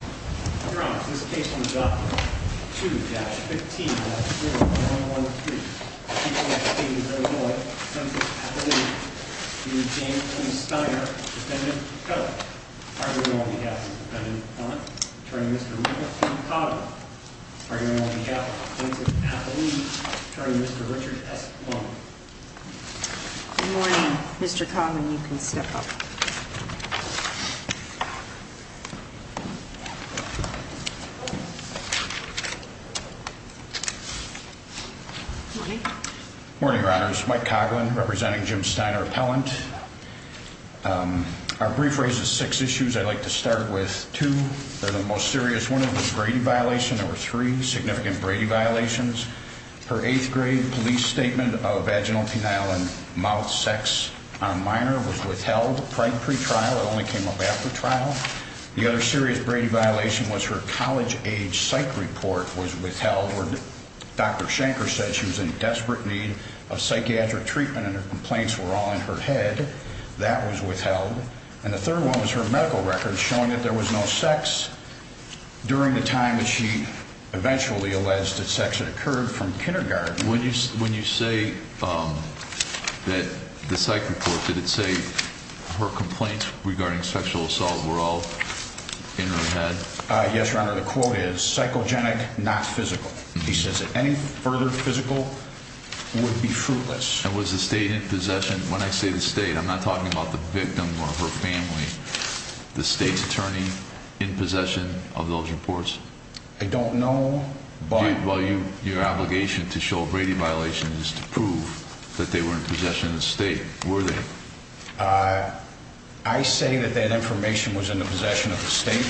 2. Yeah. Good morning. Mr. Cobb. And you can step up. Okay. Okay. Okay. Morning runners. Mike Coughlin representing Jim Steiner appellant. Um, our brief raises six issues. I'd like to start with two. They're the most serious one of the Brady violation. There were three significant Brady violations. Her eighth grade police statement of vaginal penile and mouth sex on minor was withheld right pre trial. It only came up after trial. The serious Brady violation was her college age psych report was withheld. Dr Shanker said she was in desperate need of psychiatric treatment and her complaints were all in her head. That was withheld. And the third one was her medical records showing that there was no sex during the time that she eventually alleged that sex had occurred from kindergarten. When you say, um, that the psych report, did it say her complaints regarding sexual assault were all in her head? Yes, your honor. The quote is psychogenic, not physical. He says that any further physical would be fruitless. It was the state in possession. When I say the state, I'm not talking about the victim or her family, the state's attorney in possession of those reports. I don't know. But while you your obligation to show Brady violations to prove that they were in possession of the state, were they? Uh, I say that that information was in the possession of the state.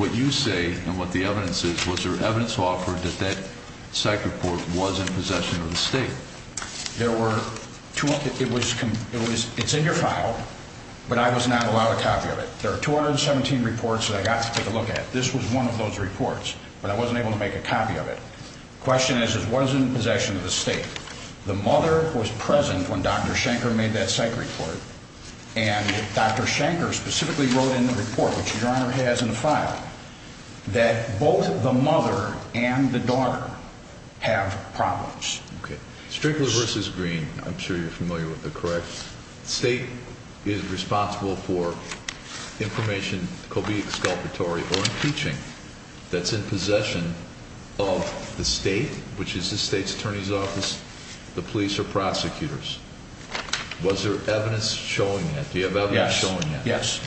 What you say and what the evidence is, was there evidence offered that that psych report was in possession of the state? There were two. It was, it's in your file, but I was not allowed a copy of it. There are 217 reports that I got to take a look at. This was one of those reports, but I wasn't able to make a copy of it. Question is, was in possession of the state. The mother was present when Dr Shanker made that psych report and Dr Shanker specifically wrote in the report, which your honor has in the file that both the mother and the daughter have problems. Okay. Strickler versus green. I'm sure you're familiar with the correct state is responsible for information could be exculpatory teaching that's in possession of the state, which is the state's attorney's office. The police are prosecutors. Was there evidence showing that? Do you have evidence showing? Yes,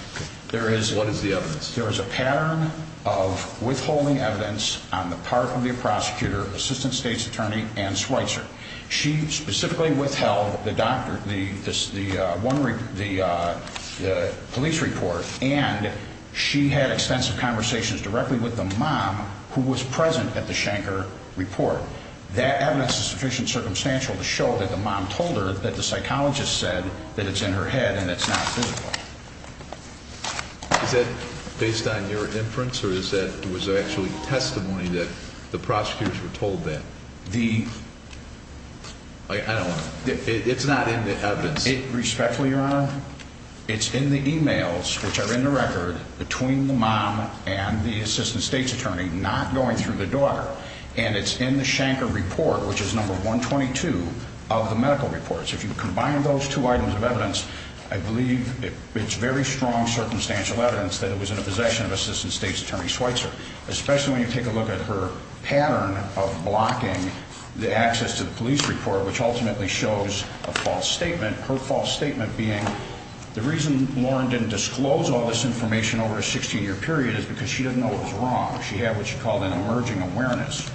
there is. What is the evidence? There is a pattern of withholding evidence on the part of the prosecutor, assistant state's attorney and Schweitzer. She specifically withheld the doctor. The the one the police report and she had extensive conversations directly with the mom who was present at the Shanker report. That evidence is sufficient circumstantial to show that the mom told her that the psychologist said that it's in her head and it's not that based on your inference, or is that it was actually testimony that the prosecutors were told that the I don't know. It's not in the evidence respectfully, your honor. It's in the emails which are in the record between the mom and the assistant state's attorney not going through the daughter. And it's in the Shanker report, which is number 1 22 of the medical reports. If you combine those two items of evidence, I believe it's very strong circumstantial evidence that it was in the possession of assistant state's attorney Schweitzer, especially when her pattern of blocking the access to the police report, which ultimately shows a false statement. Her false statement being the reason Lauren didn't disclose all this information over a 16 year period is because she didn't know it was wrong. She had what you call an emerging awareness.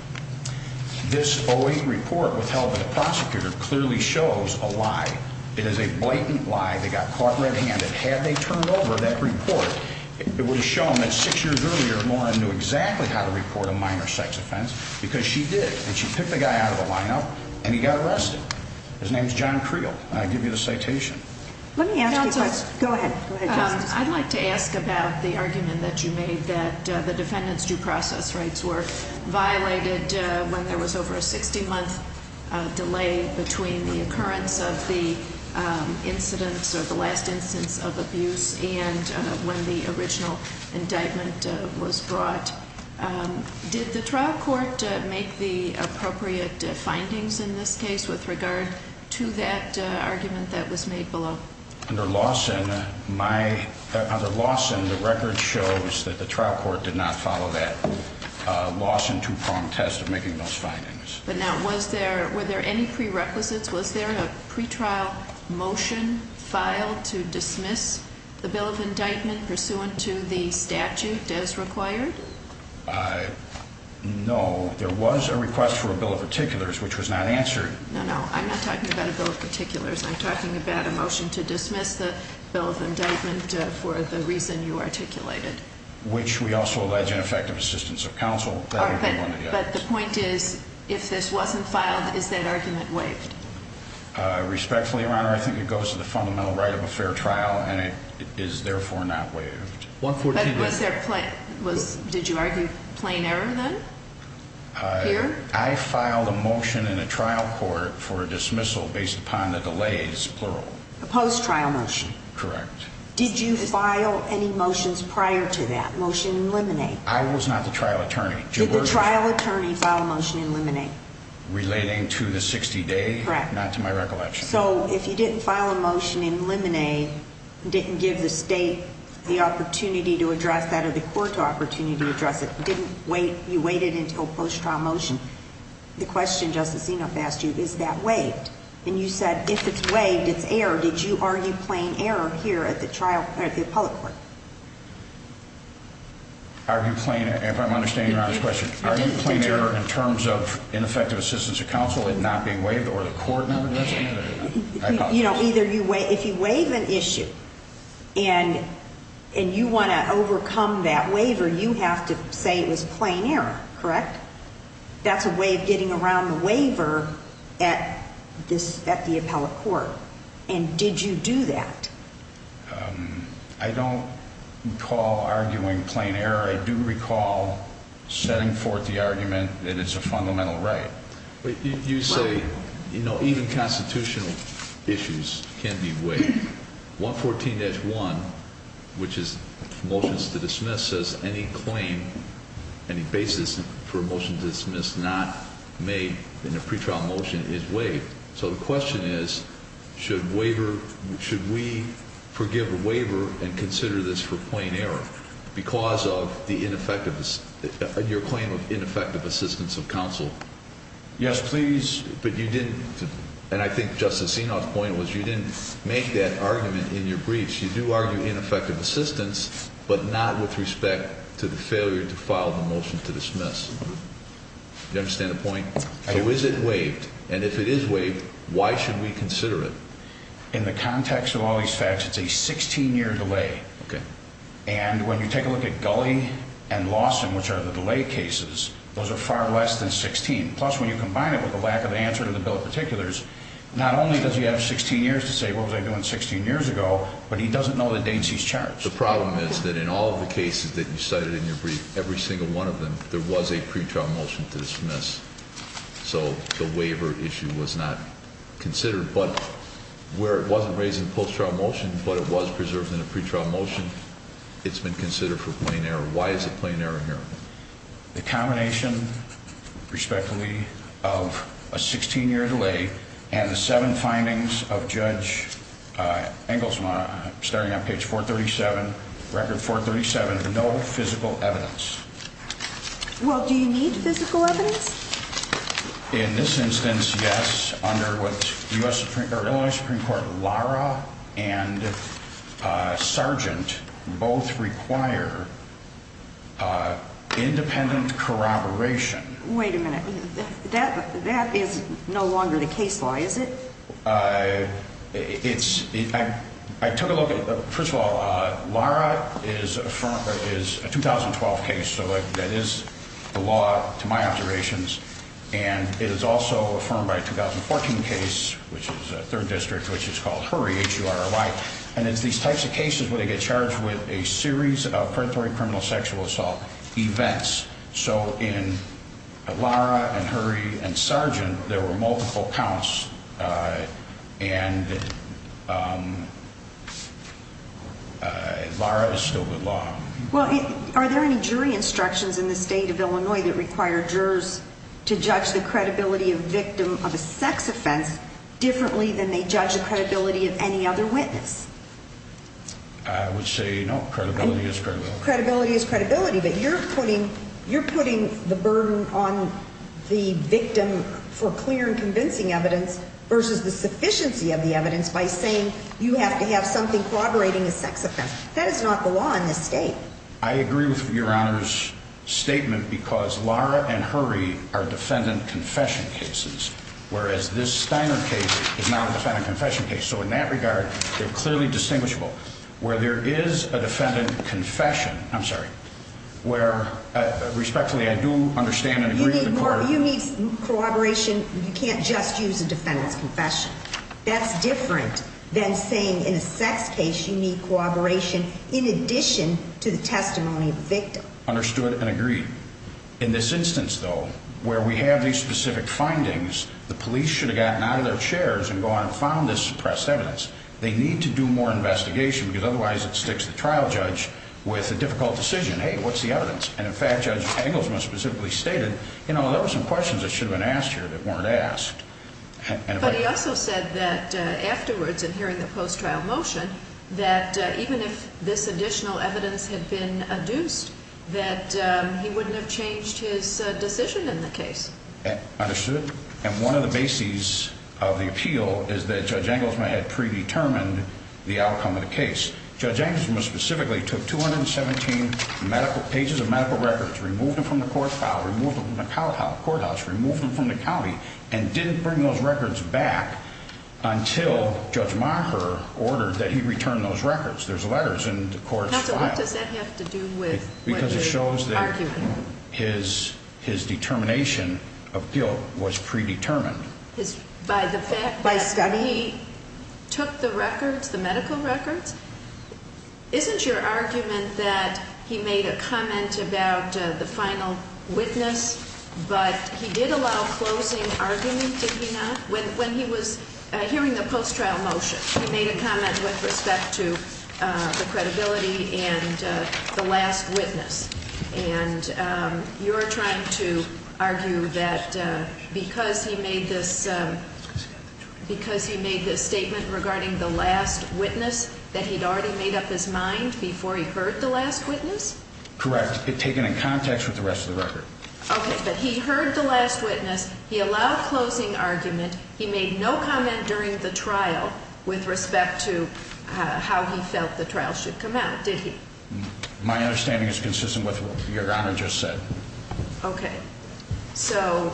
This always report withheld by the prosecutor clearly shows a lie. It is a blatant lie. They got caught red handed. Had they turned over that report, it would have shown that six years earlier, Lauren knew exactly how to report a minor sex offense because she did. And she picked the guy out of the lineup and he got arrested. His name is John Creel. I give you the citation. Let me ask. Go ahead. I'd like to ask about the argument that you made that the defendant's due process rights were violated when there was over a 60 month delay between the occurrence of the incidents of the last Did the trial court make the appropriate findings in this case with regard to that argument that was made below under Lawson? My other loss in the record shows that the trial court did not follow that loss into prompt test of making those findings. But now was there were there any prerequisites? Was there a pretrial motion filed to dismiss the bill of indictment pursuant to the statute as required? No, there was a request for a bill of particulars, which was not answered. No, no, I'm not talking about a bill of particulars. I'm talking about a motion to dismiss the bill of indictment for the reason you articulated, which we also alleged ineffective assistance of counsel. But the point is, if this wasn't filed, is that argument waived respectfully around? I think it goes to the fundamental right of a fair trial, and it is therefore not waived. What was their plan? Was did you argue plain error? Then I filed a motion in a trial court for dismissal based upon the delays. Plural post trial motion. Correct. Did you file any motions prior to that motion? Eliminate? I was not the trial attorney. The trial attorney filed a motion. Eliminate relating to the 60 day. Not to my recollection. So if you didn't file a motion in Lemonade, didn't give the state the opportunity to address that of the court opportunity to address it, didn't wait. You waited until post trial motion. The question, Justice, you know, fast. You is that waived? And you said, if it's waived, it's air. Did you argue plain error here at the trial at the public court? Are you playing? If I'm understanding the question, are you playing error in terms of ineffective assistance of counsel and not being waived or the you know, either you wait, if you waive an issue and and you want to overcome that waiver, you have to say it was plain error. Correct. That's a way of getting around the waiver at this at the appellate court. And did you do that? I don't call arguing plain error. I do recall setting forth the argument that it's a fundamental right. You say, you know, even constitutional issues can be waived. 114-1, which is motions to dismiss as any claim, any basis for motion to dismiss, not made in a pretrial motion is waived. So the question is, should waiver should we forgive the waiver and consider this for plain error because of the ineffective your claim of ineffective assistance of counsel? Yes, please. But you didn't. And I think Justice Sinow's point was, you didn't make that argument in your briefs. You do argue ineffective assistance, but not with respect to the failure to file the motion to dismiss. You understand the point? So is it waived? And if it is waived, why should we consider it in the context of all these facts? It's a 16 year delay. And when you take a look at Gully and Lawson, which are the delay cases, those are far less than 16. Plus, when you combine it with the lack of answer to the bill of particulars, not only does he have 16 years to say, What was I doing 16 years ago? But he doesn't know that Dainsey's charged. The problem is that in all the cases that you cited in your brief, every single one of them, there was a pretrial motion to dismiss. So the waiver issue was not considered, but where it wasn't raising post trial motion, but it was preserved in a pretrial motion. It's been considered for plain error. Why is plain error here? The combination respectively of a 16 year delay and the seven findings of Judge Inglesmire starting on page 4 37 record 4 37. No physical evidence. Well, do you need physical evidence in this instance? Yes. Under what U. S. Uh, independent corroboration. Wait a minute. That that is no longer the case. Why is it? Uh, it's I took a look at. First of all, Laura is from is a 2012 case. So that is the law to my observations. And it is also affirmed by 2014 case, which is third district, which is called Hurry H. R. Y. And it's these types of cases where they get charged with a series of predatory criminal sexual assault events. So in Laura and hurry and sergeant, there were multiple counts. Uh, and, um, Laura is still good law. Well, are there any jury instructions in the state of Illinois that require jurors to judge the credibility of victim of a sex offense differently than they judge the credibility of any other witness? I would say no. Credibility is credibility. Credibility is credibility. But you're putting you're putting the burden on the victim for clear and convincing evidence versus the sufficiency of the evidence by saying you have to have something corroborating a sex offense. That is not the law in this state. I agree with your honor's statement because Laura and hurry are defendant confession cases, whereas this Steiner case is clearly distinguishable where there is a defendant confession. I'm sorry, where respectfully, I do understand and agree with the court. You need corroboration. You can't just use a defendant's confession. That's different than saying in a sex case. You need corroboration in addition to the testimony of victim understood and agreed in this instance, though, where we have these specific findings, the police should have gotten out of their evidence. They need to do more investigation because otherwise it sticks the trial judge with a difficult decision. Hey, what's the evidence? And in fact, Judge Engels must specifically stated, you know, there were some questions that should have been asked here that weren't asked. But he also said that afterwards and hearing the post trial motion that even if this additional evidence had been adduced that he wouldn't have changed his decision in the case understood. And one of the bases of the appeal is that jangles my head predetermined the outcome of the case. Judge Angus was specifically took 217 medical pages of medical records, removed them from the court file, removed them from the college courthouse, removed them from the county and didn't bring those records back until Judge Marker ordered that he returned those records. There's letters in the courts. What does that have to do with because it shows that his his determination of guilt was predetermined by the fact that he took the records, the medical records isn't your argument that he made a comment about the final witness, but he did allow closing argument. When he was hearing the post trial motion, he made a comment with respect to the credibility and the last witness. And you're trying to argue that because he made this because he made this statement regarding the last witness that he'd already made up his mind before he heard the last witness. Correct. Taken in context with the rest of the record. Okay. But he heard the last witness. He allowed closing argument. He made no comment during the trial with respect to how he felt the trial should come out. Did he? My understanding is consistent with your honor just said. Okay. So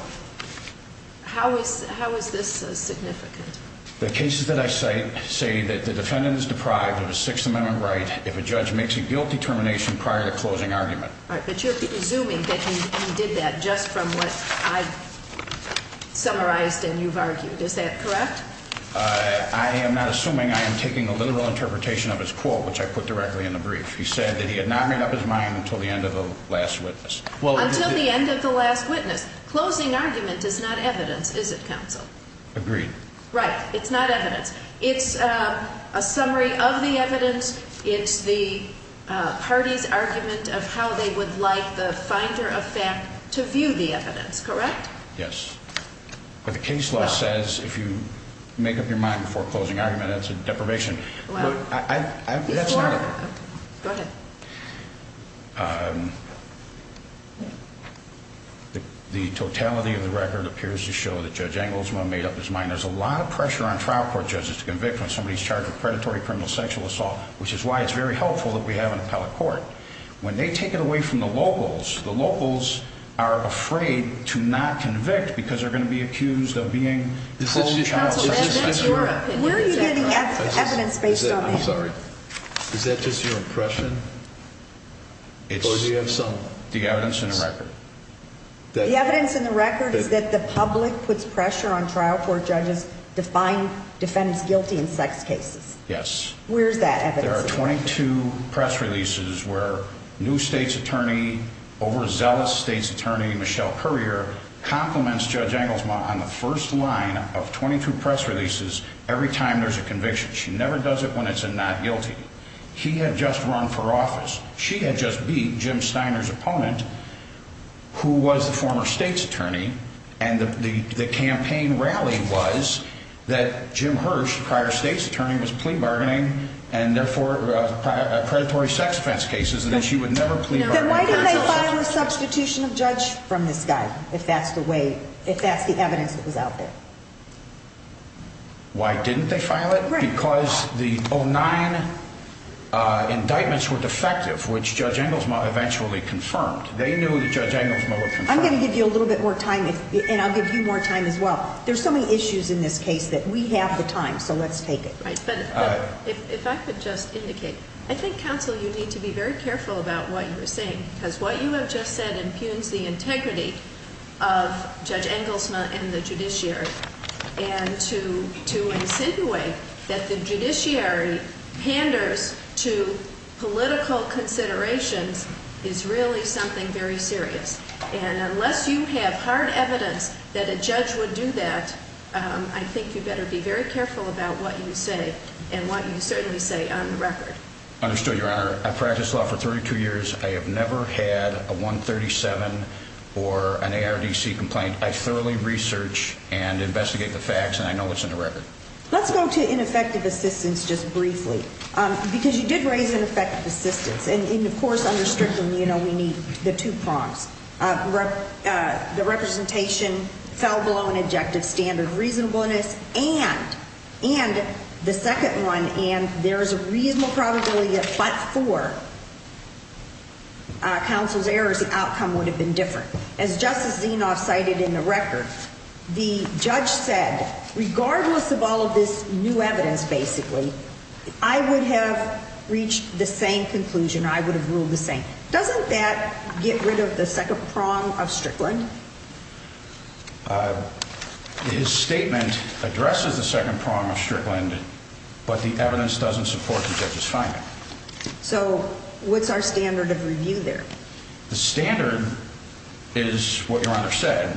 how is how is this significant? The cases that I say say that the defendant is deprived of a Sixth Amendment right if a judge makes a guilty determination prior to closing argument. But you're assuming that he did that just from what I've summarized and you've argued. Is that correct? I am not assuming I am taking a literal interpretation of his quote, which I put directly in the brief. He said that he had not made up his mind until the end of the last witness. Well, until the end of the last witness, closing argument is not evidence, is it? Council agreed, right? It's not evidence. It's a summary of the evidence. It's the party's argument of how they would like the finder of fact to view the evidence. Correct? Yes. But the case law says if you make up your mind before closing argument, it's a go ahead. Um, the totality of the record appears to show that Judge Angleswell made up his mind. There's a lot of pressure on trial court judges to convict when somebody's charged with predatory criminal sexual assault, which is why it's very helpful that we have an appellate court when they take it away from the locals. The locals are afraid to not convict because they're going to be accused of being this. Where are you getting evidence based on? I'm sorry. Is that just your impression? It's the evidence in the record. The evidence in the record is that the public puts pressure on trial for judges define defendants guilty in sex cases. Yes. Where's that? There are 22 press releases where new state's attorney over zealous state's attorney Michelle courier compliments Judge on the first line of 22 press releases. Every time there's a conviction, she never does it when it's a not guilty. He had just run for office. She had just beat Jim Steiner's opponent, who was the former state's attorney. And the campaign rally was that Jim Hirsch prior state's attorney was plea bargaining and therefore predatory sex offense cases that she would never plead. Why did they file a substitution of judge from this guy? If that's the way, if that's the evidence that was out there, why didn't they file it? Because the oh nine indictments were defective, which judge angles eventually confirmed. They knew that judge angles. I'm gonna give you a little bit more time and I'll give you more time as well. There's so many issues in this case that we have the time. So let's take it. But if I could just indicate, I think counsel, you need to be very careful about what you're saying because what you have just said impugns the integrity of Judge Engelsman and the judiciary and to to insinuate that the judiciary panders to political considerations is really something very serious. And unless you have hard evidence that a judge would do that, I think you better be very careful about what you say and what you certainly say on the record. Understood. Your honor, I practiced law for 32 years. I have never had a 1 37 or an A. R. D. C. Complaint. I thoroughly research and investigate the facts and I know what's in the record. Let's go to ineffective assistance just briefly because you did raise ineffective assistance. And of course, under strictly, you know, we need the two prompts. Uh, the representation fell below an objective standard reasonableness and and the second one. And there is a reasonable probability that but for council's errors, the outcome would have been different. As Justice Zinoff cited in the record, the judge said, regardless of all of this new evidence, basically, I would have reached the same conclusion. I would have ruled the same. Doesn't that get rid of the second prong of Strickland? Uh, his statement addresses the second prong of Strickland, but the evidence doesn't support the judge's finding. So what's our standard of review there? The standard is what your honor said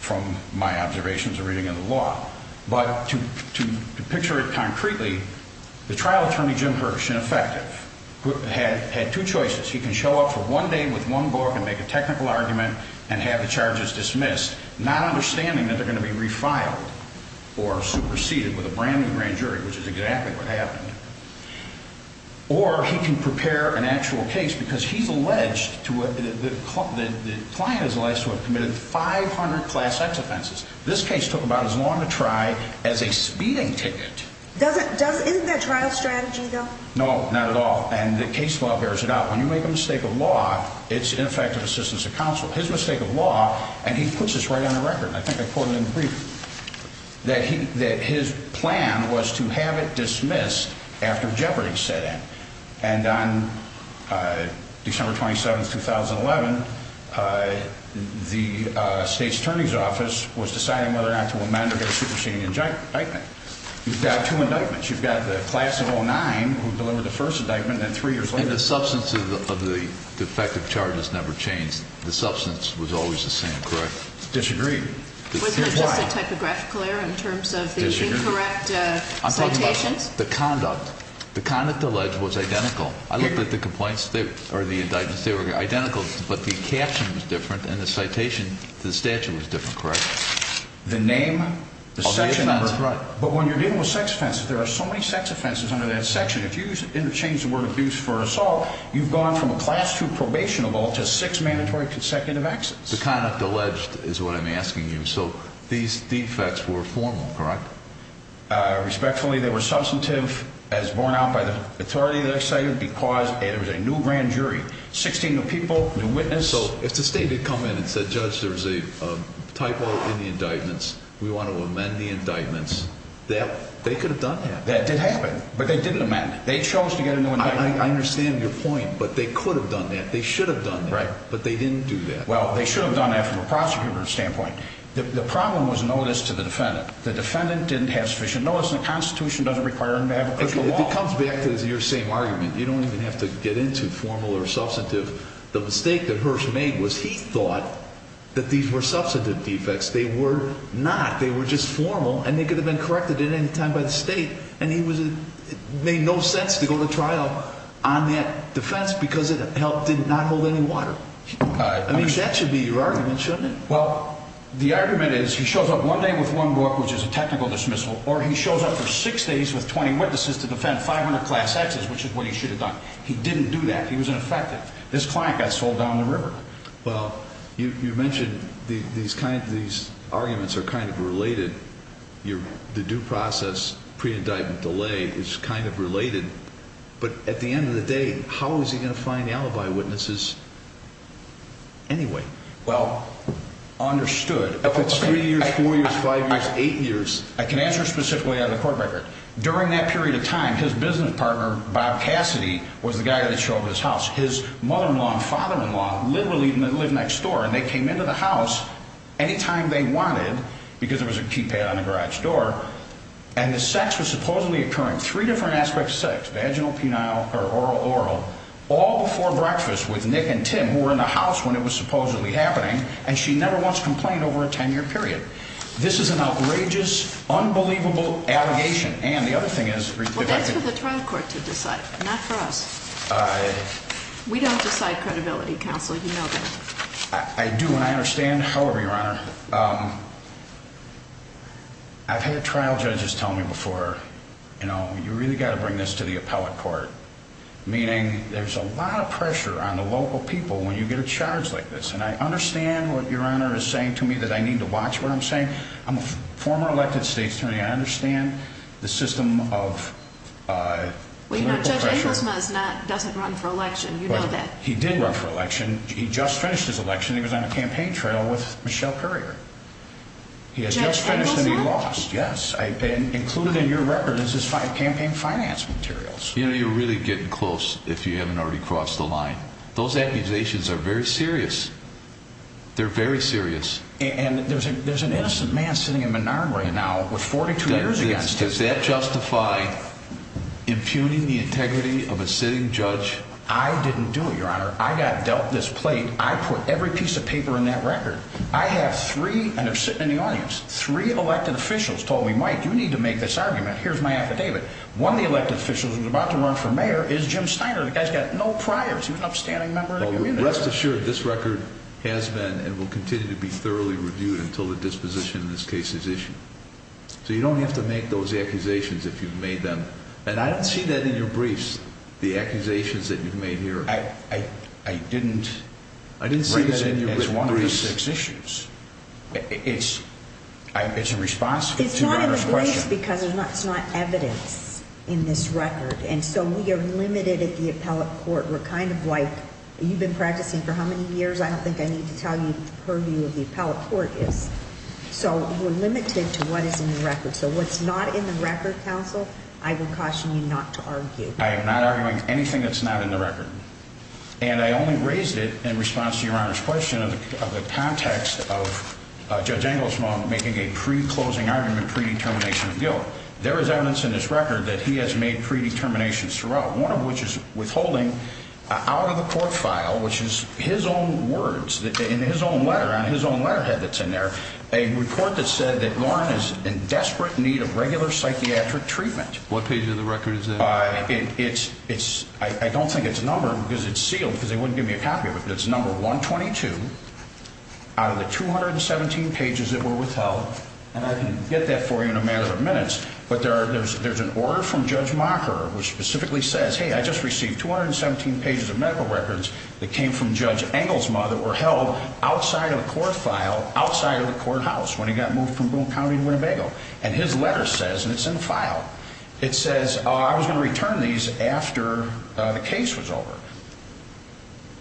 from my observations are reading in the law. But to to picture it concretely, the trial attorney, Jim Hirsch, ineffective, had had two choices. He can show up for one day with one book and make a technical argument and have the charges dismissed, not understanding that they're going to be refiled or superseded with a brand new grand jury, which is exactly what happened. Or he can prepare an actual case because he's alleged to the client is less would have committed 500 class X offenses. This case took about as long to try as a speeding ticket. Doesn't doesn't that trial strategy, though? No, not at all. And the case law bears it out. When you make a mistake of law, it's ineffective assistance of counsel, his mistake of law. And he puts us right on the record. I think I put it in brief that he that his plan was to have it dismissed after jeopardy set in. And on, uh, December 27, 2011, uh, the state's attorney's office was deciding whether or not to amend or get a superseding in giant indictment. You've got two indictments. You've got the class of 09 who delivered the first indictment and three years later, the substance of the defective charges never changed. The substance was always the same, correct? Disagree. Was that just a typographical error in terms of the incorrect citations? The conduct, the conduct alleged was identical. I looked at the complaints that are the indictments. They were identical, but the caption was different in the citation. The statute was different, correct? The name, the section number. But when you're dealing with sex offenses, there are so many sex offenses under that section. If you interchange the word abuse for assault, you've gone from a class to probationable to six mandatory consecutive access. The kind of alleged is what I'm asking you. So these defects were formal, correct? Uh, respectfully, they were substantive as borne out by the authority that excited because it was a new grand jury, 16 new people, new witness. So if the state to come in and said, Judge, there's a typo in the indictments. We want to amend the indictments that they could have done that. That did happen, but they didn't amend it. They chose to get a new indictment. I understand your point, but they could have done that. They should have done right, but they didn't do that. Well, they should have done that from a prosecutor's standpoint. The problem was noticed to the defendant. The defendant didn't have sufficient notice. The Constitution doesn't require him to have a question. It comes back to your same argument. You don't even have to get into formal or substantive. The mistake that Hirsch made was he thought that these were substantive defects. They were not. They were just formal and they could have been corrected at any time by the state. And he was made no sense to go to trial on that defense because it did not hold any water. I mean, that should be your argument, shouldn't it? Well, the argument is he shows up one day with one book, which is a technical dismissal, or he shows up for six days with 20 witnesses to defend 500 class X's, which is what he should have done. He didn't do that. He was ineffective. This client got sold down the river. Well, you mentioned these kinds of these arguments are kind of related. The due process pre indictment delay is kind of related. But at the end of the day, how is he gonna find the alibi witnesses anyway? Well, understood. If it's three years, four years, five years, eight years, I can answer specifically on the court record. During that period of time, his business partner, Bob Cassidy, was the guy that showed his house. His mother in law and father in law literally live next door, and they came into the house any time they wanted because there was a keypad on the garage door, and the sex was supposedly occurring three different aspects. Sex, vaginal, penile or oral oral all before breakfast with Nick and Tim were in the house when it was supposedly happening, and she never wants to complain over a 10 year period. This is an outrageous, unbelievable allegation. And the other thing is for the trial court to decide. Not for us. We don't decide credibility counseling. I do. And I understand. However, your honor, I've had trial judges tell me before. You know, you really got to bring this to the appellate court, meaning there's a lot of pressure on the local people when you get a charge like this. And I understand what your honor is saying to me that I need to watch what I'm saying. I'm a former elected states to me. I understand the system of, uh, well, you know, doesn't run for election. You know that he did run for election. He just finished his election. He was on a campaign trail with Michelle Currier. He has just finished and he lost. Yes, I've been included in your record is campaign finance materials. You know, you're really getting close if you haven't already crossed the line. Those accusations are very serious. They're very serious, and there's an innocent man sitting in Menard right now with 42 years against his that justify impugning the integrity of a sitting judge. I didn't do it, your honor. I got dealt this plate. I put every piece of paper in that record. I have three and have sitting in the audience. Three elected officials told me, Mike, you need to make this David. One of the elected officials was about to run for mayor is Jim Steiner. The guy's got no prior to an upstanding member. Rest assured, this record has been and will continue to be thoroughly reviewed until the disposition in this case is issue. So you don't have to make those accusations if you've made them. And I don't see that in your briefs. The accusations that you've made here. I didn't. I didn't see that in your six issues. It's a response because it's not evidence in this record. And so we're limited at the appellate court. We're kind of like you've been practicing for how many years? I don't think I need to tell you purview of the appellate court is so we're limited to what is in the record. So what's not in the record? Counsel, I would caution you not to argue. I am not arguing anything that's not in the record, and I only raised it in response to your question of the context of Judge Angles mom making a pre closing argument predetermination of guilt. There is evidence in this record that he has made predeterminations throughout, one of which is withholding out of the court file, which is his own words in his own letter on his own letterhead that's in there. A report that said that Lauren is in desperate need of regular psychiatric treatment. What page of the record is it? It's it's I don't think it's a number because it's sealed because they wouldn't give me a 22 out of the 217 pages that were withheld. And I can get that for you in a matter of minutes. But there are there's there's an order from Judge Marker, which specifically says, Hey, I just received 217 pages of medical records that came from Judge Angles mother were held outside of the court file outside of the courthouse when he got moved from County Winnebago and his letter says, and it's in the file, it says I was gonna return these after the case was over.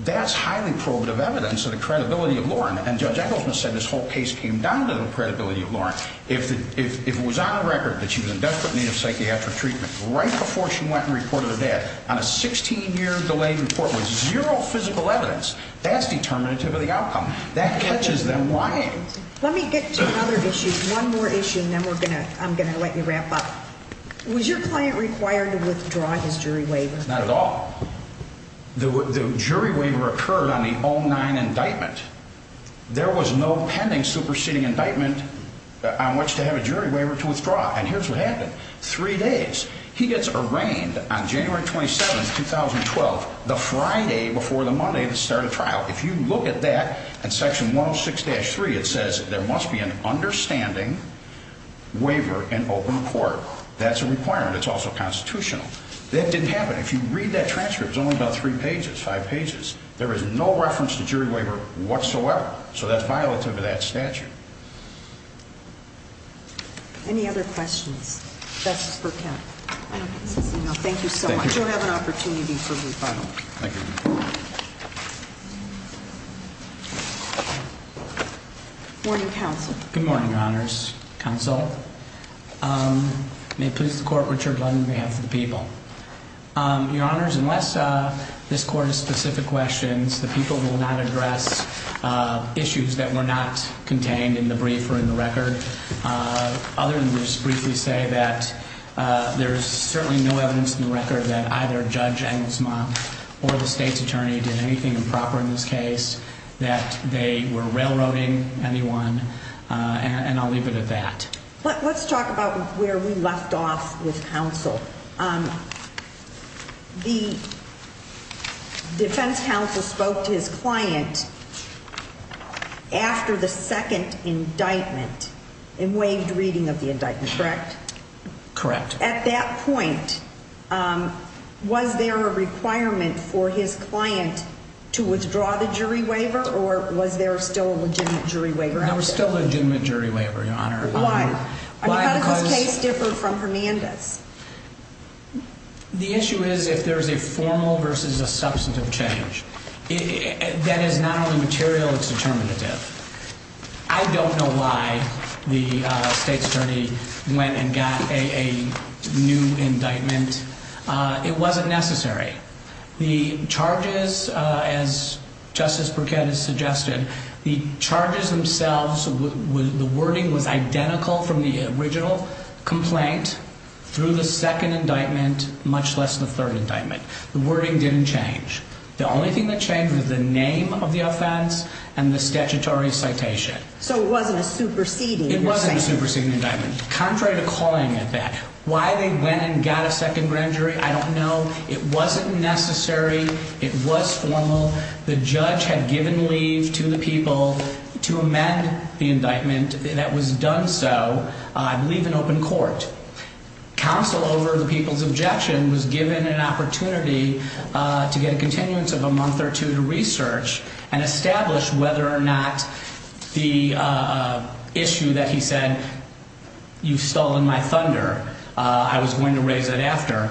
That's highly probative evidence of the credibility of Lauren and Judge Engelsman said this whole case came down to the credibility of Lawrence. If that if it was on the record that she was in desperate need of psychiatric treatment right before she went and reported her dad on a 16 year delay report with zero physical evidence, that's determinative of the outcome that catches them lying. Let me get to another issue. One more issue and then we're gonna I'm gonna let you wrap up. Was your client required to withdraw his jury waiver? Not at all. The jury waiver occurred on the own nine indictment. There was no pending superseding indictment on which to have a jury waiver to withdraw. And here's what happened. Three days. He gets arraigned on January 27, 2012, the Friday before the Monday to start a trial. If you look at that in Section 106-3, it says there must be an understanding waiver in open court. That's a requirement. It's also constitutional. That didn't happen. If you read that transcript zone about three pages, five pages, there is no reference to jury waiver whatsoever. So that's violative of that statute. Any other questions? That's for camp. Thank you so much. You have an opportunity for rebuttal. Morning Council. Good morning. Honors Council. Um, may it please the court on behalf of the people? Um, your honors, unless this court is specific questions, the people will not address issues that were not contained in the brief or in the record. Uh, other than this briefly say that there's certainly no evidence in the record that either judge and small or the state's attorney did anything improper in this case that they were railroading anyone on. And let's talk about where we left off with counsel. Um, the defense counsel spoke to his client after the second indictment and waived reading of the indictment. Correct? Correct. At that point, um, was there a requirement for his client to withdraw the jury waiver? Or was there still a legitimate jury waiver? There were still different from Hernandez. The issue is if there's a formal versus a substantive change that is not only material, it's determinative. I don't know why the state's attorney went and got a new indictment. It wasn't necessary. The charges, as Justice Burkett has suggested, the charges themselves, the wording was identical from the original complaint through the second indictment, much less the third indictment. The wording didn't change. The only thing that changed the name of the offense and the statutory citation. So it wasn't a superseding. It wasn't a superseding indictment. Contrary to calling it that why they went and got a second grand jury. I don't know. It wasn't necessary. It was formal. The judge had given leave to the people to amend the indictment. That was done. So I believe in open court counsel over the people's objection was given an opportunity to get a continuance of a month or two to research and establish whether or not the issue that he said you've stolen my thunder. I was going to raise that after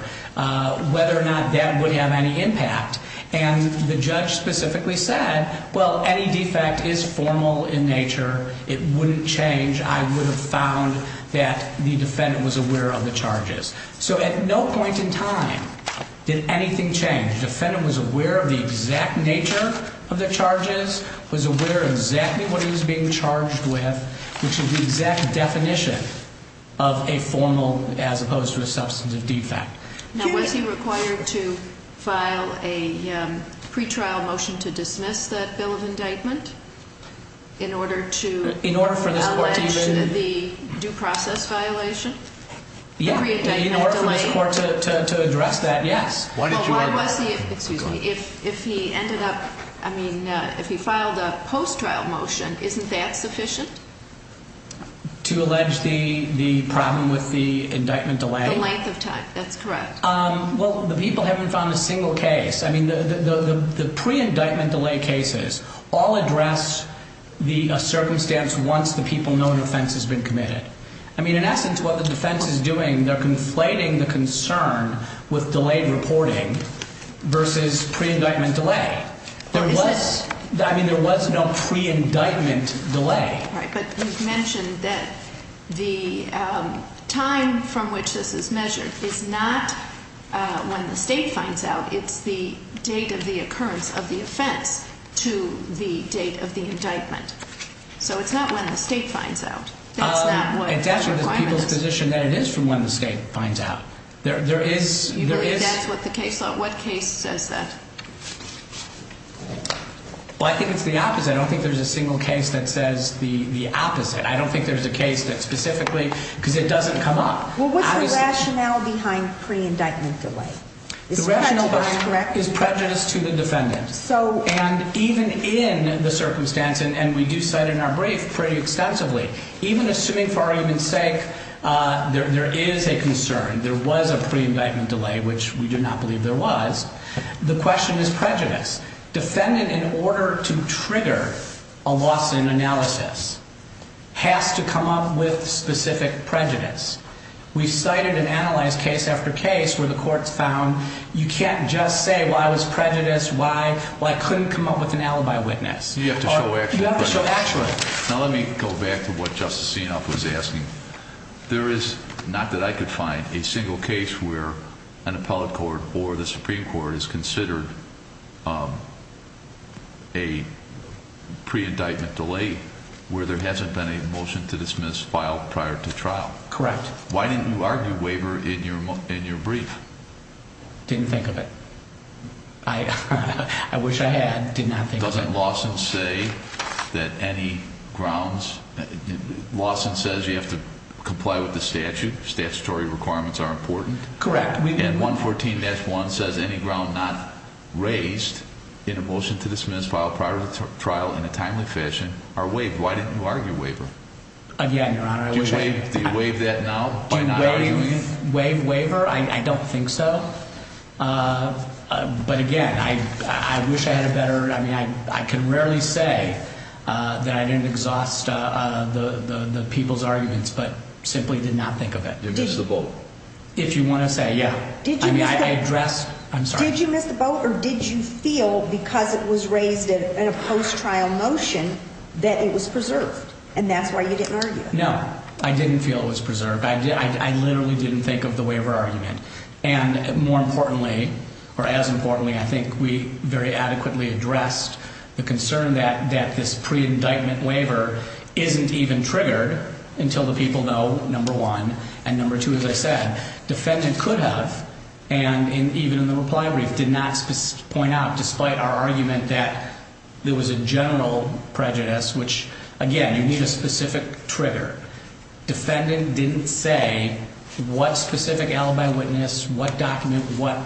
whether or not that would have any impact. And the judge specifically said, well, any defect is formal in nature. It wouldn't change. I would have found that the defendant was aware of the charges. So at no point in time did anything change. Defendant was aware of the exact nature of the charges, was aware exactly what he was being charged with, which is the exact definition of a formal as opposed to a substantive defect. Now, was he required to file a pretrial motion to dismiss that bill of indictment in order to in the due process violation? In order for the court to address that? Yes. Why did you? Excuse me. If if he ended up, I mean, if he filed a post trial motion, isn't that sufficient to allege the problem with the indictment delay length of time? That's correct. Well, the people haven't found a single case. I mean, the pre indictment delay cases all address the circumstance once the people know an offense has been committed. I mean, in essence, what the defense is doing, they're conflating the concern with delayed reporting versus pre indictment delay. There was, I mean, there was no pre indictment delay. Right. But you mentioned that the time from which this is measured is not when the state finds out. It's the date of the occurrence of the offense to the date of the indictment. So it's not when the state finds out. It's actually the people's position that it is from when the state finds out there, there is, there is what the case, what case says that? Well, I think it's the opposite. I don't think there's a single case that says the opposite. I don't think there's a case that specifically because it doesn't come up. Well, what's the rationale behind pre indictment delay? The rationale behind it is prejudice to the defendant. So, and even in the circumstance, and we do cite in our brief pretty extensively, even assuming for argument's sake, uh, there, there is a concern. There was a pre indictment delay, which we do not believe there was. The question is prejudice. Defendant in order to trigger a loss in analysis has to come up with specific prejudice. We cited an analyzed case after case where the court's found. You can't just say, well, I was prejudiced. Why? Well, I couldn't come up with an alibi witness. You have to show actually. Now, let me go back to what Justice Sienoff was asking. There is not that I could find a single case where an appellate court or the Supreme Court is considered, um, a pre indictment delay where there hasn't been a motion to dismiss file prior to trial. Correct. Why didn't you argue waiver in your in your brief? Didn't think of it. I wish I had did nothing. Doesn't Lawson say that any grounds Lawson says you have to comply with the statute. Statutory requirements are important. Correct. We get 114-1 says any ground not raised in a motion to dismiss file prior to trial in a timely fashion are waived. Why didn't you waiver? Again, Your Honor, I wish I could waive that now. Waive waiver. I don't think so. Uh, but again, I wish I had a better. I mean, I could rarely say that I didn't exhaust the people's arguments, but simply did not think of it. It is the boat. If you want to say, Yeah, I mean, I address. I'm sorry. Did you miss the boat? Or did you feel because it was raised in a post trial motion that it was preserved? And that's why you didn't argue? No, I didn't feel it was preserved. I did. I literally didn't think of the waiver argument. And more importantly, or as importantly, I think we very adequately addressed the concern that that this pre indictment waiver isn't even triggered until the people know number one and number two. As I said, defendant could have and even in the reply brief did not point out, despite our argument that there was a general prejudice, which again, you need a specific trigger. Defendant didn't say what specific alibi witness, what document, what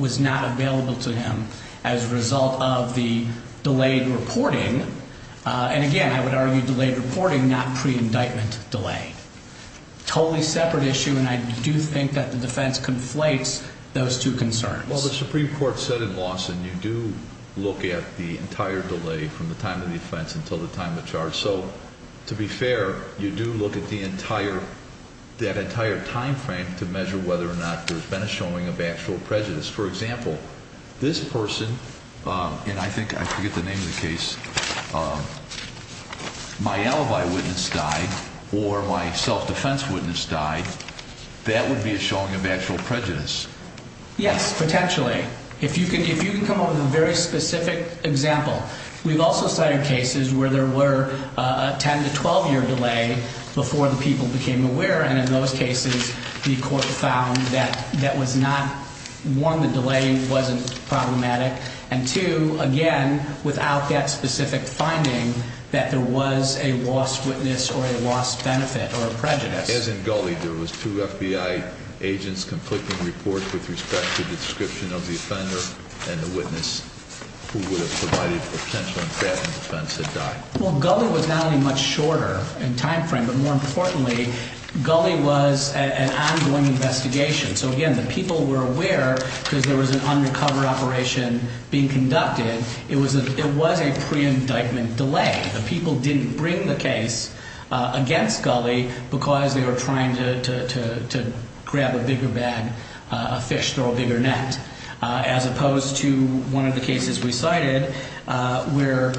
was not available to him as a result of the delayed reporting. And again, I would argue delayed reporting, not pre indictment delay. Totally separate issue. And I do think that the defense conflates those two concerns. Well, the Supreme Court said in Lawson, you do look at the entire delay from the time of the offense until the time of charge. So to be fair, you do look at the entire, that entire time frame to measure whether or not there's been a showing of actual prejudice. For example, this person, and I think I forget the name of the case, my alibi witness died or my self defense witness died. That would be a showing of actual prejudice. Yes, potentially. If you can, if you can come up with a very specific example, we've also cited cases where there were a 10 to 12 year delay before the people became aware. And in those cases, the court found that that was not one. The delay wasn't problematic. And to again, without that specific finding that there was a lost witness or a lost benefit or prejudice. As in Gully, there was two FBI agents conflicting reports with respect to the description of the offender and the witness who would have provided a potential and fattening defense had died. Well, Gully was not any much shorter in time frame. But more importantly, Gully was an ongoing investigation. So again, the people were aware because there was an undercover operation being conducted. It was it was a pre indictment delay. The people didn't bring the case against Gully because they were trying to grab a bigger bag, a fish, throw a bigger net as opposed to one of the cases we cited where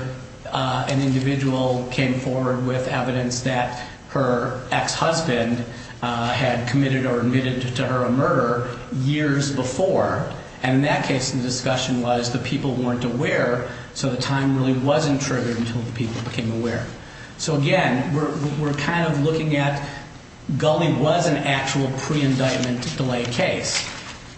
an individual came forward with evidence that her ex husband had committed or admitted to her a murder years before. And in that case, the discussion was the people weren't aware. So the time really wasn't triggered until the people became aware. So again, we're kind of looking at Gully was an actual pre indictment delay case.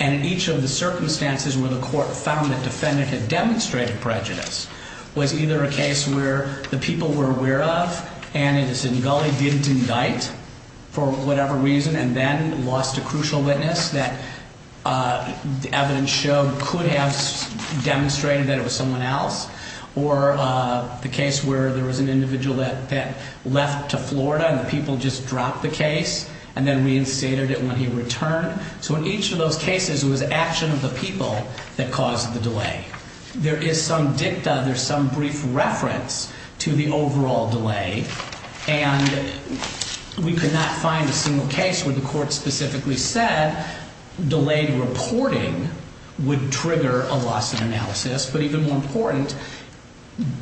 And in each of the circumstances where the court found that defendant had demonstrated prejudice was either a case where the people were aware of and it is in Gully didn't indict for whatever reason and then lost a crucial witness that evidence showed could have demonstrated that it was someone else or the case where there was an individual that that left to Florida and the people just dropped the case and then reinstated it when he returned. So in each of those cases, it was action of the people that caused the delay. There is some dicta, there's some brief reference to the overall delay and we could not find a single case where the but even more important,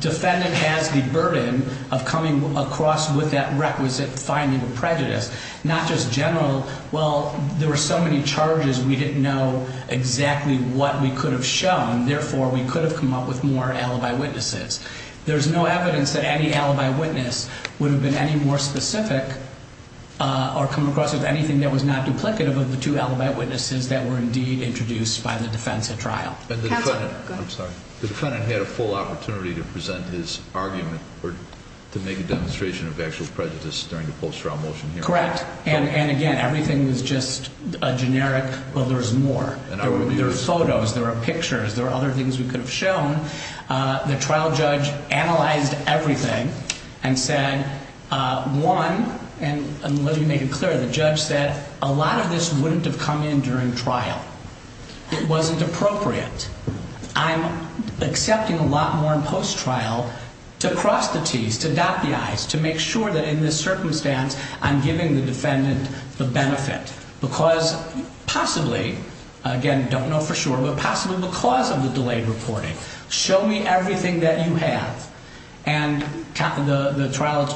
defendant has the burden of coming across with that requisite finding of prejudice, not just general. Well, there were so many charges, we didn't know exactly what we could have shown. Therefore, we could have come up with more alibi witnesses. There's no evidence that any alibi witness would have been any more specific or come across with anything that was not duplicative of the two alibi witnesses that were indeed introduced by the defense of trial. I'm sorry, the defendant had a full opportunity to present his argument to make a demonstration of actual prejudice during the post trial motion. Correct. And again, everything was just a generic. Well, there's more photos, there are pictures, there are other things we could have shown. Uh, the trial judge analyzed everything and said, uh, one and let me make it clear, the judge said a lot of this wouldn't have come in during trial. It wasn't appropriate. I'm accepting a lot more in post trial to cross the T's to dot the I's to make sure that in this circumstance I'm giving the defendant the benefit because possibly again, don't know for sure, but possibly because of the delayed reporting, show me everything that you have. And the trial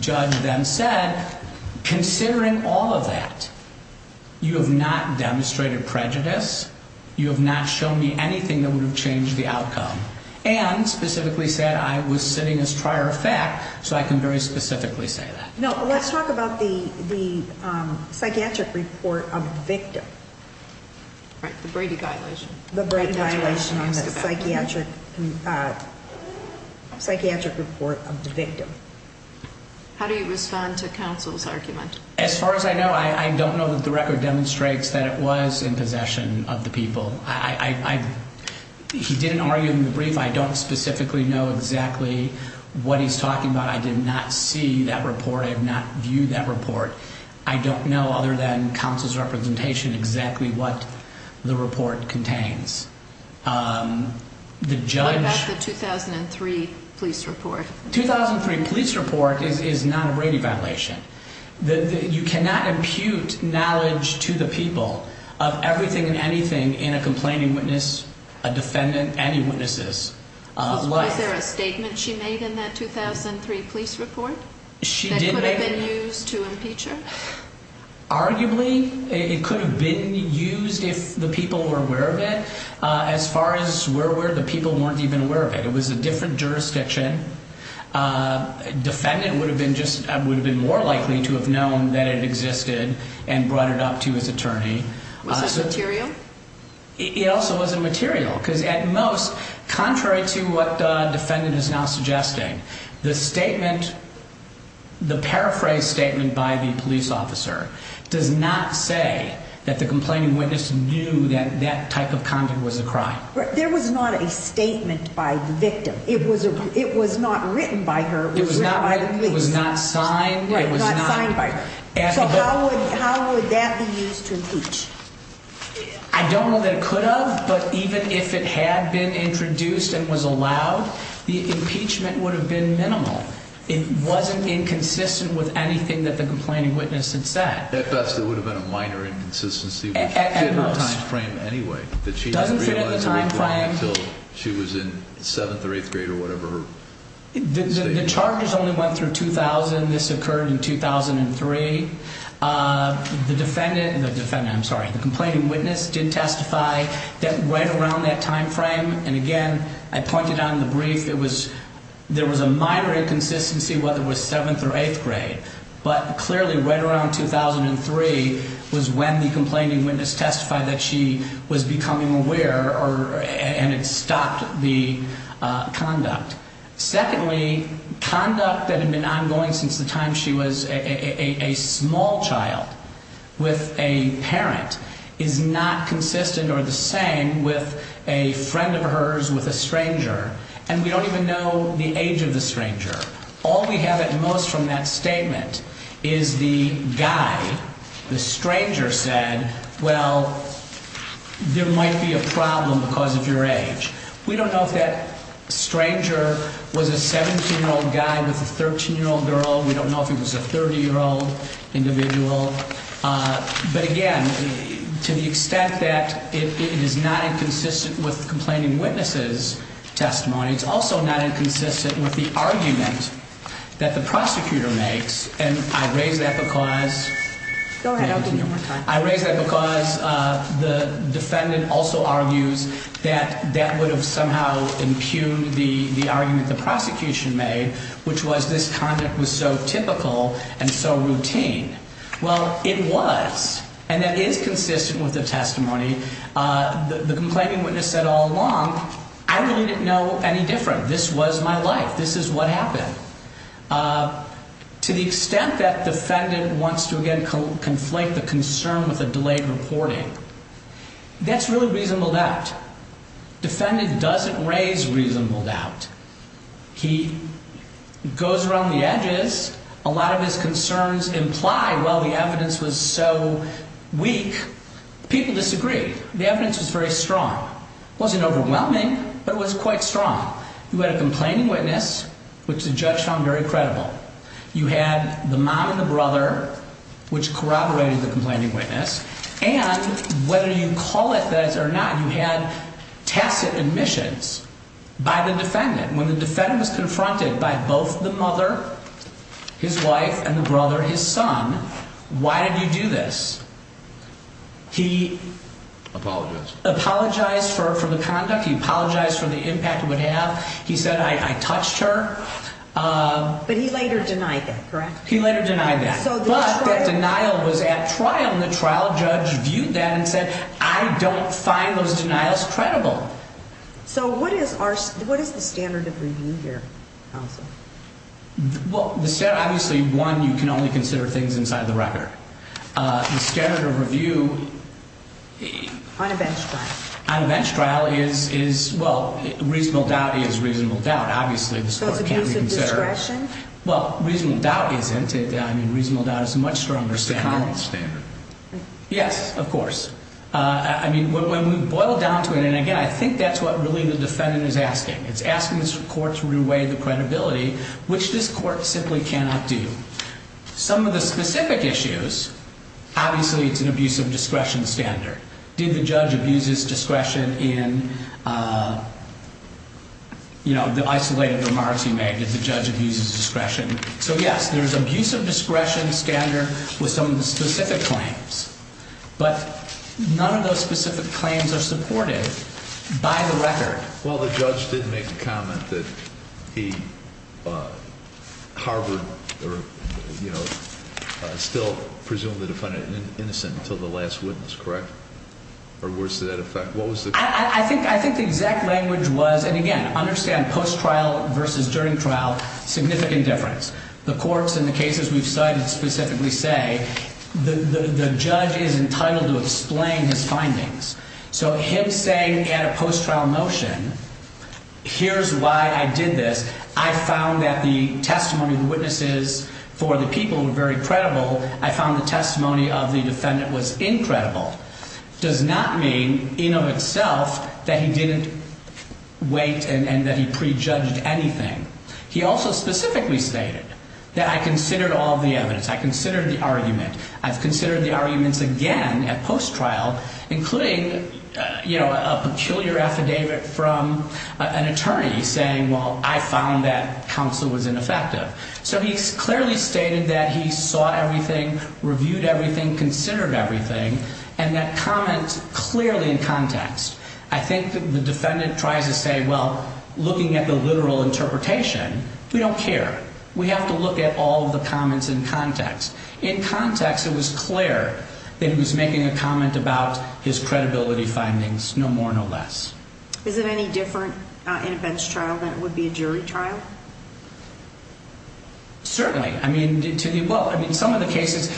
judge then said, considering all that, you have not demonstrated prejudice. You have not shown me anything that would have changed the outcome and specifically said I was sitting as prior effect. So I can very specifically say that. No, let's talk about the psychiatric report of victim, right? The Brady violation, the brain violation, the psychiatric, uh, psychiatric report of the victim. How do you respond to counsel's argument? As far as I know, I don't know that the record demonstrates that it was in possession of the people. I didn't argue in the brief. I don't specifically know exactly what he's talking about. I did not see that report. I have not viewed that report. I don't know other than council's representation exactly what the report contains. Um, the judge, the 2003 police report, 2003 police report is not a Brady violation. You cannot impute knowledge to the people of everything and anything in a complaining witness, a defendant, any witnesses. Was there a statement she made in that 2003 police report? She did make news to impeach her. Arguably, it could have been used if the people were aware of it. As far as we're where the people weren't even aware of it. It was a different jurisdiction. Uh, defendant would have been just would have been more likely to have known that it existed and brought it up to his attorney material. It also wasn't material because at most, contrary to what defendant is now suggesting the statement, the paraphrase statement by the police officer does not say that the complaining witness knew that that type of conduct was a crime. There was not a statement by the victim. It was it was not written by her. It was not. It was not signed. It was not signed by. How would that be used to impeach? I don't know that it could have, but even if it had been introduced and was allowed, the impeachment would have been minimal. It wasn't inconsistent with anything that the complaining witness had said. At best, it would have been a minor inconsistency frame anyway that she doesn't fit in the time frame until she was in 7th or 8th grade or whatever. The charges only went through 2000. This occurred in 2003. Uh, the defendant, the defendant, I'm sorry, the complaining witness did testify that right around that time frame. And again, I pointed on the brief. It was there was a minor inconsistency, whether it was 7th or 8th grade, but clearly right around 2003 was when the complaining witness testified that she was becoming aware or and it stopped the conduct. Secondly, conduct that had been ongoing since the time she was a small child with a parent is not consistent or the same with a friend of stranger. All we have at most from that statement is the guy, the stranger said, Well, there might be a problem because of your age. We don't know if that stranger was a 17 year old guy with a 13 year old girl. We don't know if it was a 30 year old individual. But again, to the extent that it is not inconsistent with complaining witnesses testimony, it's also not consistent with the argument that the prosecutor makes. And I raise that because I raise that because the defendant also argues that that would have somehow impugned the argument the prosecution made, which was this conduct was so typical and so routine. Well, it was and that is consistent with the testimony. Uh, the complaining witness said all along, I really was my life. This is what happened. Uh, to the extent that defendant wants to again conflate the concern with a delayed reporting, that's really reasonable doubt. Defendant doesn't raise reasonable doubt. He goes around the edges. A lot of his concerns imply. Well, the evidence was so weak. People disagree. The evidence was very strong, wasn't overwhelming, but it was quite strong. You had a complaining witness, which the judge found very credible. You had the mom and the brother, which corroborated the complaining witness and whether you call it that or not, you had tacit admissions by the defendant. When the defendant was confronted by both the mother, his wife and the brother, his son. Why did you do this? He apologized, apologized for the conduct. He apologized for the impact would have. He said, I touched her. Uh, but he later denied that, correct? He later denied that. But that denial was at trial. The trial judge viewed that and said, I don't find those denials credible. So what is our? What is the standard of review here? Well, obviously one, you can only consider things inside the record. Uh, standard of review on a bench trial on a bench trial is, is well, reasonable doubt is reasonable doubt. Obviously, the source of discretion. Well, reasonable doubt isn't it? I mean, reasonable doubt is much stronger standard standard. Yes, of course. I mean, when we boil down to it and again, I think that's what really the defendant is asking. It's asking the court to reweigh the credibility, which this court simply cannot do. Some of the specific issues. Obviously, it's an abuse of discretion standard. Did the judge abuse his discretion in, uh, you know, the isolated remarks he made that the judge abuses discretion. So yes, there is abuse of discretion standard with some of the specific claims, but none of those specific claims are supported by the record. Well, the judge didn't make the comment that he, uh, Harvard, you know, still presumably defended innocent until the last witness. Correct. Or worse to that effect. What was I think? I think the exact language was and again understand post trial versus during trial. Significant difference. The courts in the cases we've cited specifically say the judge is entitled to explain his motion. Here's why I did this. I found that the testimony of the witnesses for the people were very credible. I found the testimony of the defendant was incredible. Does not mean in of itself that he didn't wait and that he pre judged anything. He also specifically stated that I considered all the evidence. I considered the argument. I've considered the arguments again at kill your affidavit from an attorney saying, Well, I found that counsel was ineffective. So he's clearly stated that he saw everything, reviewed everything, considered everything and that comments clearly in context. I think the defendant tries to say, Well, looking at the literal interpretation, we don't care. We have to look at all the comments in context. In context, it was clear that he was making a comment about his credibility findings. No more, no less. Is it any different in a bench trial than it would be a jury trial? Certainly. I mean, to you, well, I mean, some of the cases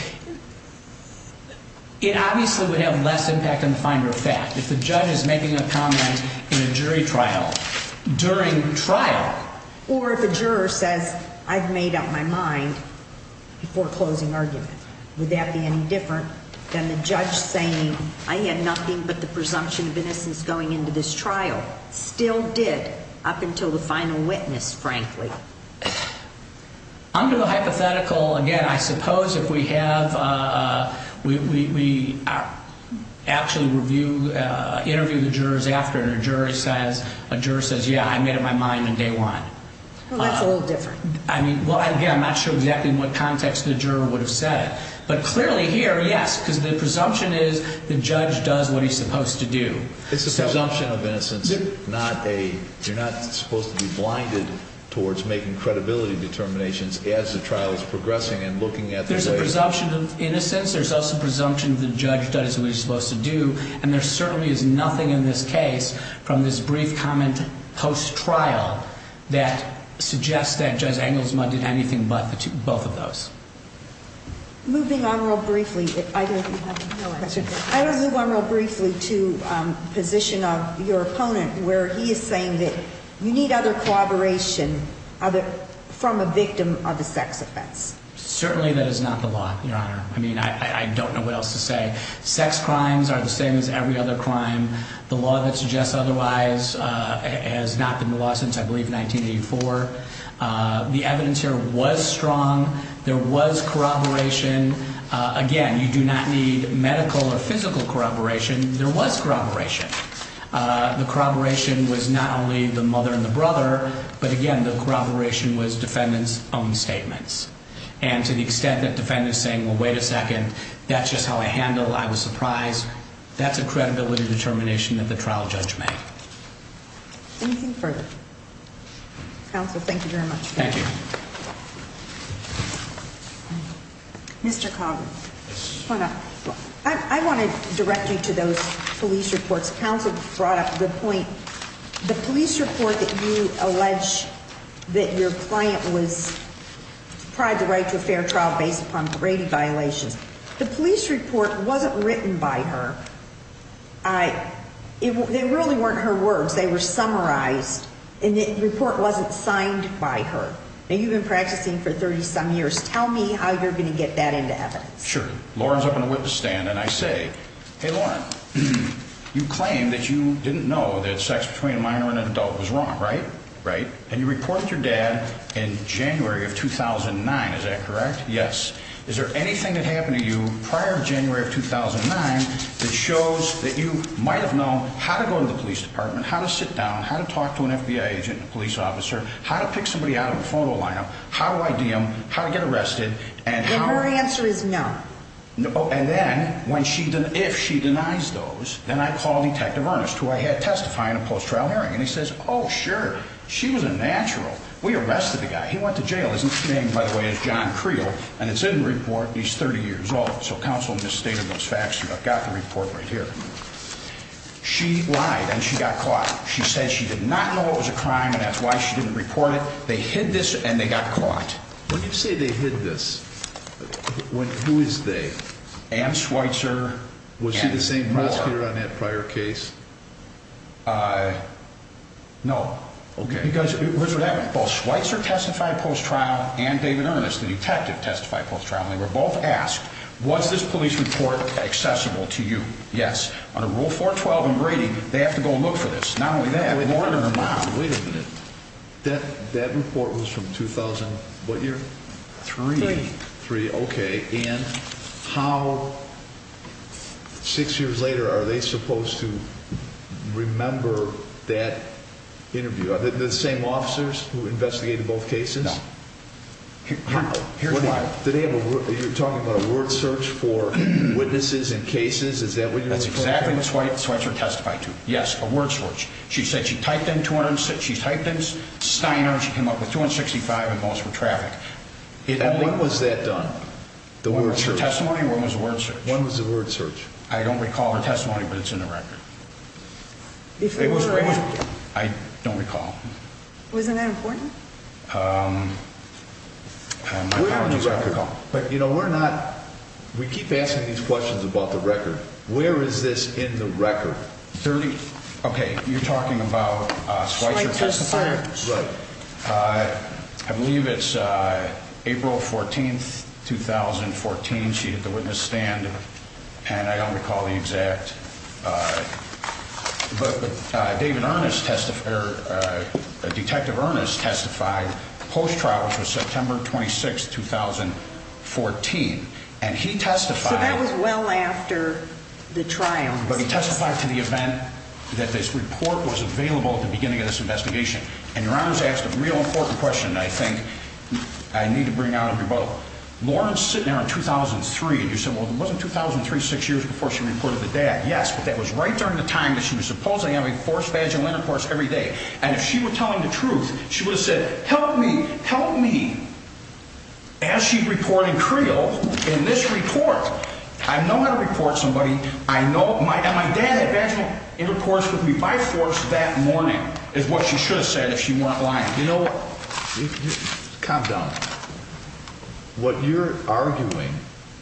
it obviously would have less impact on the finder of fact if the judge is making a comment in a jury trial during trial or if a juror says I've made up my mind before closing argument. Would that be any different than the judge saying I had nothing but the presumption of innocence going into this trial still did up until the final witness? Frankly, under the hypothetical again, I suppose if we have, uh, we actually review interview the jurors after a jury says a juror says, Yeah, I made up my mind on day one. That's a little different. I mean, well, again, I'm not sure exactly what context the juror would have said. But clearly here, yes, because the presumption is the judge does what he's supposed to do. It's a presumption of innocence, not a you're not supposed to be blinded towards making credibility determinations as the trial is progressing and looking at there's a presumption of innocence. There's also presumption of the judge does what he's supposed to do. And there certainly is nothing in this case from this brief comment post trial that suggests that just angles mud did anything but both of those moving on real briefly. I don't know. I don't move on real briefly to position of your opponent, where he is saying that you need other collaboration from a victim of a sex offense. Certainly that is not the law, Your Honor. I mean, I don't know what else to say. Sex crimes are the same as every other crime. The law that suggests otherwise has not been the law since, I believe, 1984. The evidence here was strong. There was corroboration again. You do not need medical or physical corroboration. There was corroboration. The corroboration was not only the mother and the brother, but again, the corroboration was defendants own statements. And to the extent that defendants saying, Well, wait a second, that's just how I handle. I was credibility determination of the trial judgment. Anything further? Council. Thank you very much. Thank you. Mr. Coggins, I want to direct you to those police reports. Council brought up the point. The police report that you allege that your client was tried the right to a fair trial based upon Brady violations. The police report wasn't written by her. I it really weren't her words. They were summarized in the report wasn't signed by her. You've been practicing for 30 some years. Tell me how you're going to get that into evidence. Sure. Lauren's up in a witness stand. And I say, Hey, you claim that you didn't know that sex between minor and adult was wrong, right? Right. And you report your dad in January of 2000 and nine. Is that correct? Yes. Is there anything that happened to you prior to January of 2000 and nine that shows that you might have known how to go to the police department, how to sit down, how to talk to an FBI agent, police officer, how to pick somebody out of a photo lineup, how I DM how to get arrested. And her answer is no. And then when she did, if she denies those, then I called Detective Ernest, who I had testify in a post trial hearing. And he says, Oh, sure. She was a natural. We arrested the guy. He went to Creel and it's in the report. He's 30 years old. So counsel in this state of those facts. I've got the report right here. She lied and she got caught. She says she did not know it was a crime and that's why she didn't report it. They hid this and they got caught. When you say they hid this, who is they? And Schweitzer was the same prosecutor on that prior case. Uh, no. Okay, because where's what happened? Both Schweitzer testified post trial and David Ernest, the detective testified post trial. They were both asked, was this police report accessible to you? Yes. On a rule 4 12 and Brady, they have to go look for this. Not only that, more than a mile. Wait a minute. That that report was from 2000. What year? 33. Okay. And how six years later are they supposed to remember that interview? The same officers who investigated both cases? Here's why today you're talking about a word search for witnesses in cases. Is that what that's exactly? That's why it's what you're testified to. Yes. A word search. She said she typed in 260. She's typed in Steiner. She came up with 265 and most were traffic. When was that done? The one with your testimony? What was the word? When was the word search? I don't recall her testimony, but it's in the record. It was great. I don't recall. Wasn't that important? Um, we're on the record, but you know, we're not. We keep asking these questions about the record. Where is this in the record? 30. Okay. You're talking about Schweitzer testifier. Right. Uh, I believe it's April 14th 2014. She hit the witness stand and I don't recall the exact. But David Ernest testifier, Detective Ernest testified post trial for September 26, 2014. And he testified well after the trial, but he testified to the event that this report was available at the beginning of this investigation. And your honors asked a real important question. I think I need to bring out of your boat Lawrence sitting there in 2000 and three. And you said, well, it wasn't 2000 36 years before she reported the dad. Yes, but that was right during the time that she was supposedly having forced vaginal intercourse every day. And if she were telling the truth, she would have said, help me help me as she reporting Creel in this report. I know how to report somebody. I know my and my dad had vaginal intercourse with me by force that morning is what she should have said if she weren't lying. You know, calm down. What you're arguing,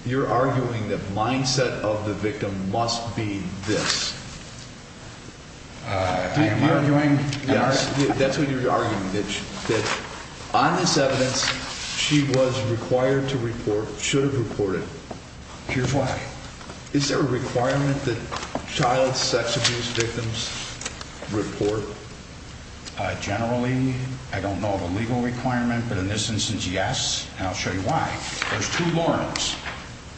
you're arguing that mindset of the victim must be this. I am arguing that's what you're arguing that on this evidence she was required to report should have reported your flag. Is there a requirement that child sex abuse victims report? Generally, I don't know of a legal requirement, but in this instance, yes. I'll show you why. There's two Laurens,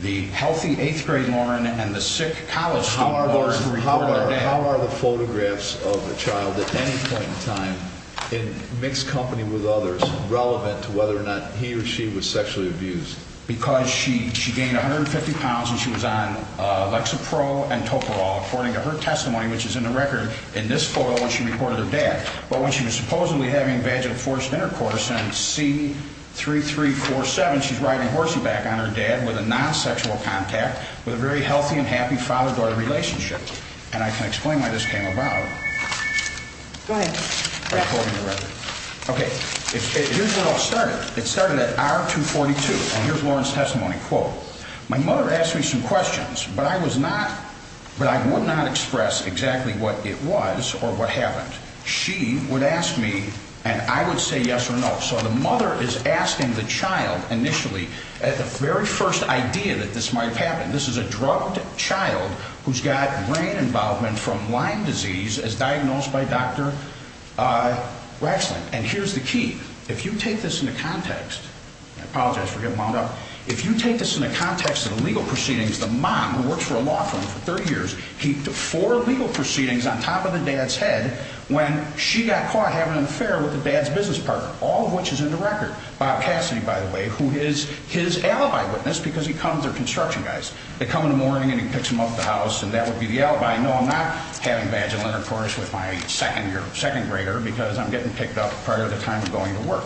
the healthy eighth grade Lauren and the sick college. How are the photographs of a child at any point in time in mixed company with others relevant to whether or not he or she was sexually abused because she gained £150 and she was on Lexapro and topo all according to her her dad. But when she was supposedly having vaginal forced intercourse and see 3347, she's riding horsey back on her dad with a non sexual contact with a very healthy and happy father daughter relationship. And I can explain why this came about. Go ahead. Okay, here's what all started. It started at our 2 42. And here's Lawrence testimony. Quote, My mother asked me some questions, but I was not, but I would not express exactly what it was or what happened. She would ask me, and I would say yes or no. So the mother is asking the child initially at the very first idea that this might have happened. This is a drugged child who's got brain involvement from Lyme disease is diagnosed by Dr. Uh, wrestling. And here's the key. If you take this in the context, I apologize for him on up. If you take this in the context of the legal proceedings, the mom works for a 30 years. He took four legal proceedings on top of the dad's head when she got caught having an affair with the dad's business partner, all of which is in the record. Bob Cassidy, by the way, who is his alibi witness because he comes their construction guys. They come in the morning and he picks him up the house and that would be the alibi. No, I'm not having vaginal intercourse with my second year second grader because I'm getting picked up part of the time of going to work.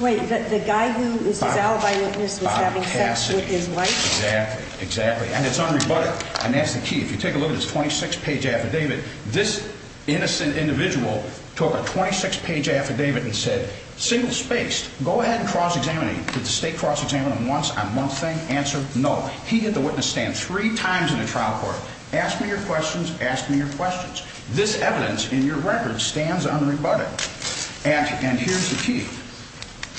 Wait, the guy who is his alibi witness was having sex with his wife. Exactly. Exactly. And it's unrebutted. And that's the key. If you take a look at his 26 page affidavit, this innocent individual took a 26 page affidavit and said, single spaced, go ahead and cross examining with the state cross examining once a month thing answer. No, he had the witness stand three times in the trial court. Ask me your questions. Ask me your questions. This evidence in your record stands unrebutted. And here's the key.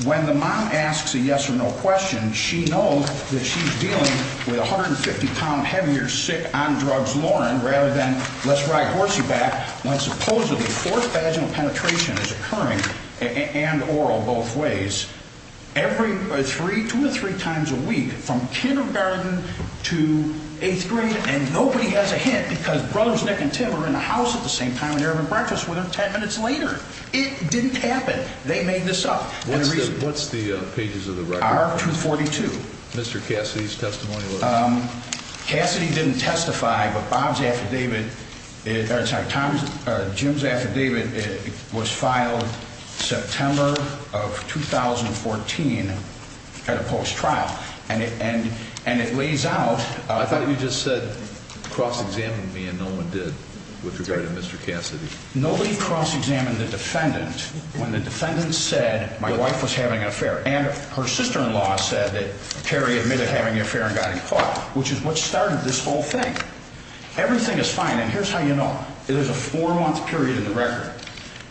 When the mom asks a yes or no question, she knows that she's dealing with 150 pound heavier sick on drugs. Lauren, rather than let's ride horsey back when supposedly fourth vaginal penetration is occurring and oral both ways every three to three times a week from kindergarten to eighth grade. And nobody has a hint because brothers Nick and Tim are in the house at the same time in there in breakfast with 10 minutes later. It didn't happen. They made this up. What's the pages of the record? 2 42. Mr Cassidy's testimony. Um, Cassidy didn't testify. But Bob's affidavit, Tom Jim's affidavit was filed September of 2014 at a post trial. And and and it lays out. I thought you just said cross examined me and no one did with regard to Mr Cassidy. Nobody cross examined the defendant when the defendant said my wife was having an affair and her sister in law said that Terry admitted having an affair and got caught, which is what started this whole thing. Everything is fine. And here's how you know it is a four month period in the record.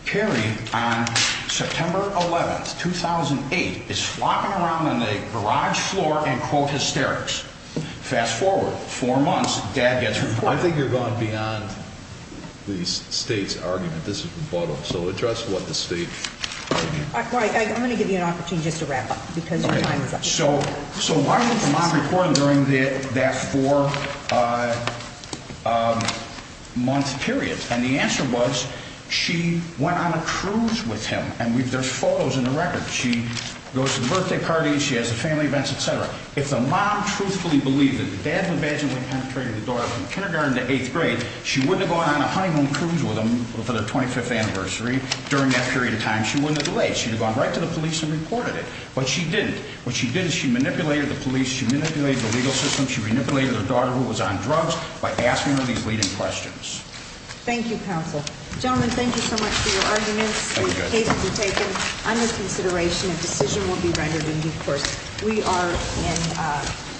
Kerry on September 11th 2008 is flopping around in the garage floor and quote hysterics. Fast forward four months. Dad gets her. I think you're going beyond the state's argument. This bottle. So address what the state? I'm going to give you an opportunity just to wrap up because so. So why was the mom recording during that four months period? And the answer was she went on a cruise with him and we've there's photos in the record. She goes to the birthday party. She has a family events, etcetera. If the mom truthfully believed that the dad would vaginally penetrated the door from kindergarten to eighth grade, she wouldn't have gone on cruise with him for the 25th anniversary. During that period of time, she wouldn't have delayed. She would have gone right to the police and reported it. But she didn't. What she did is she manipulated the police. She manipulated the legal system. She manipulated her daughter who was on drugs by asking her these leading questions. Thank you, counsel. Gentlemen, thank you so much for your arguments. Under consideration, a decision will be rendered in due course. We are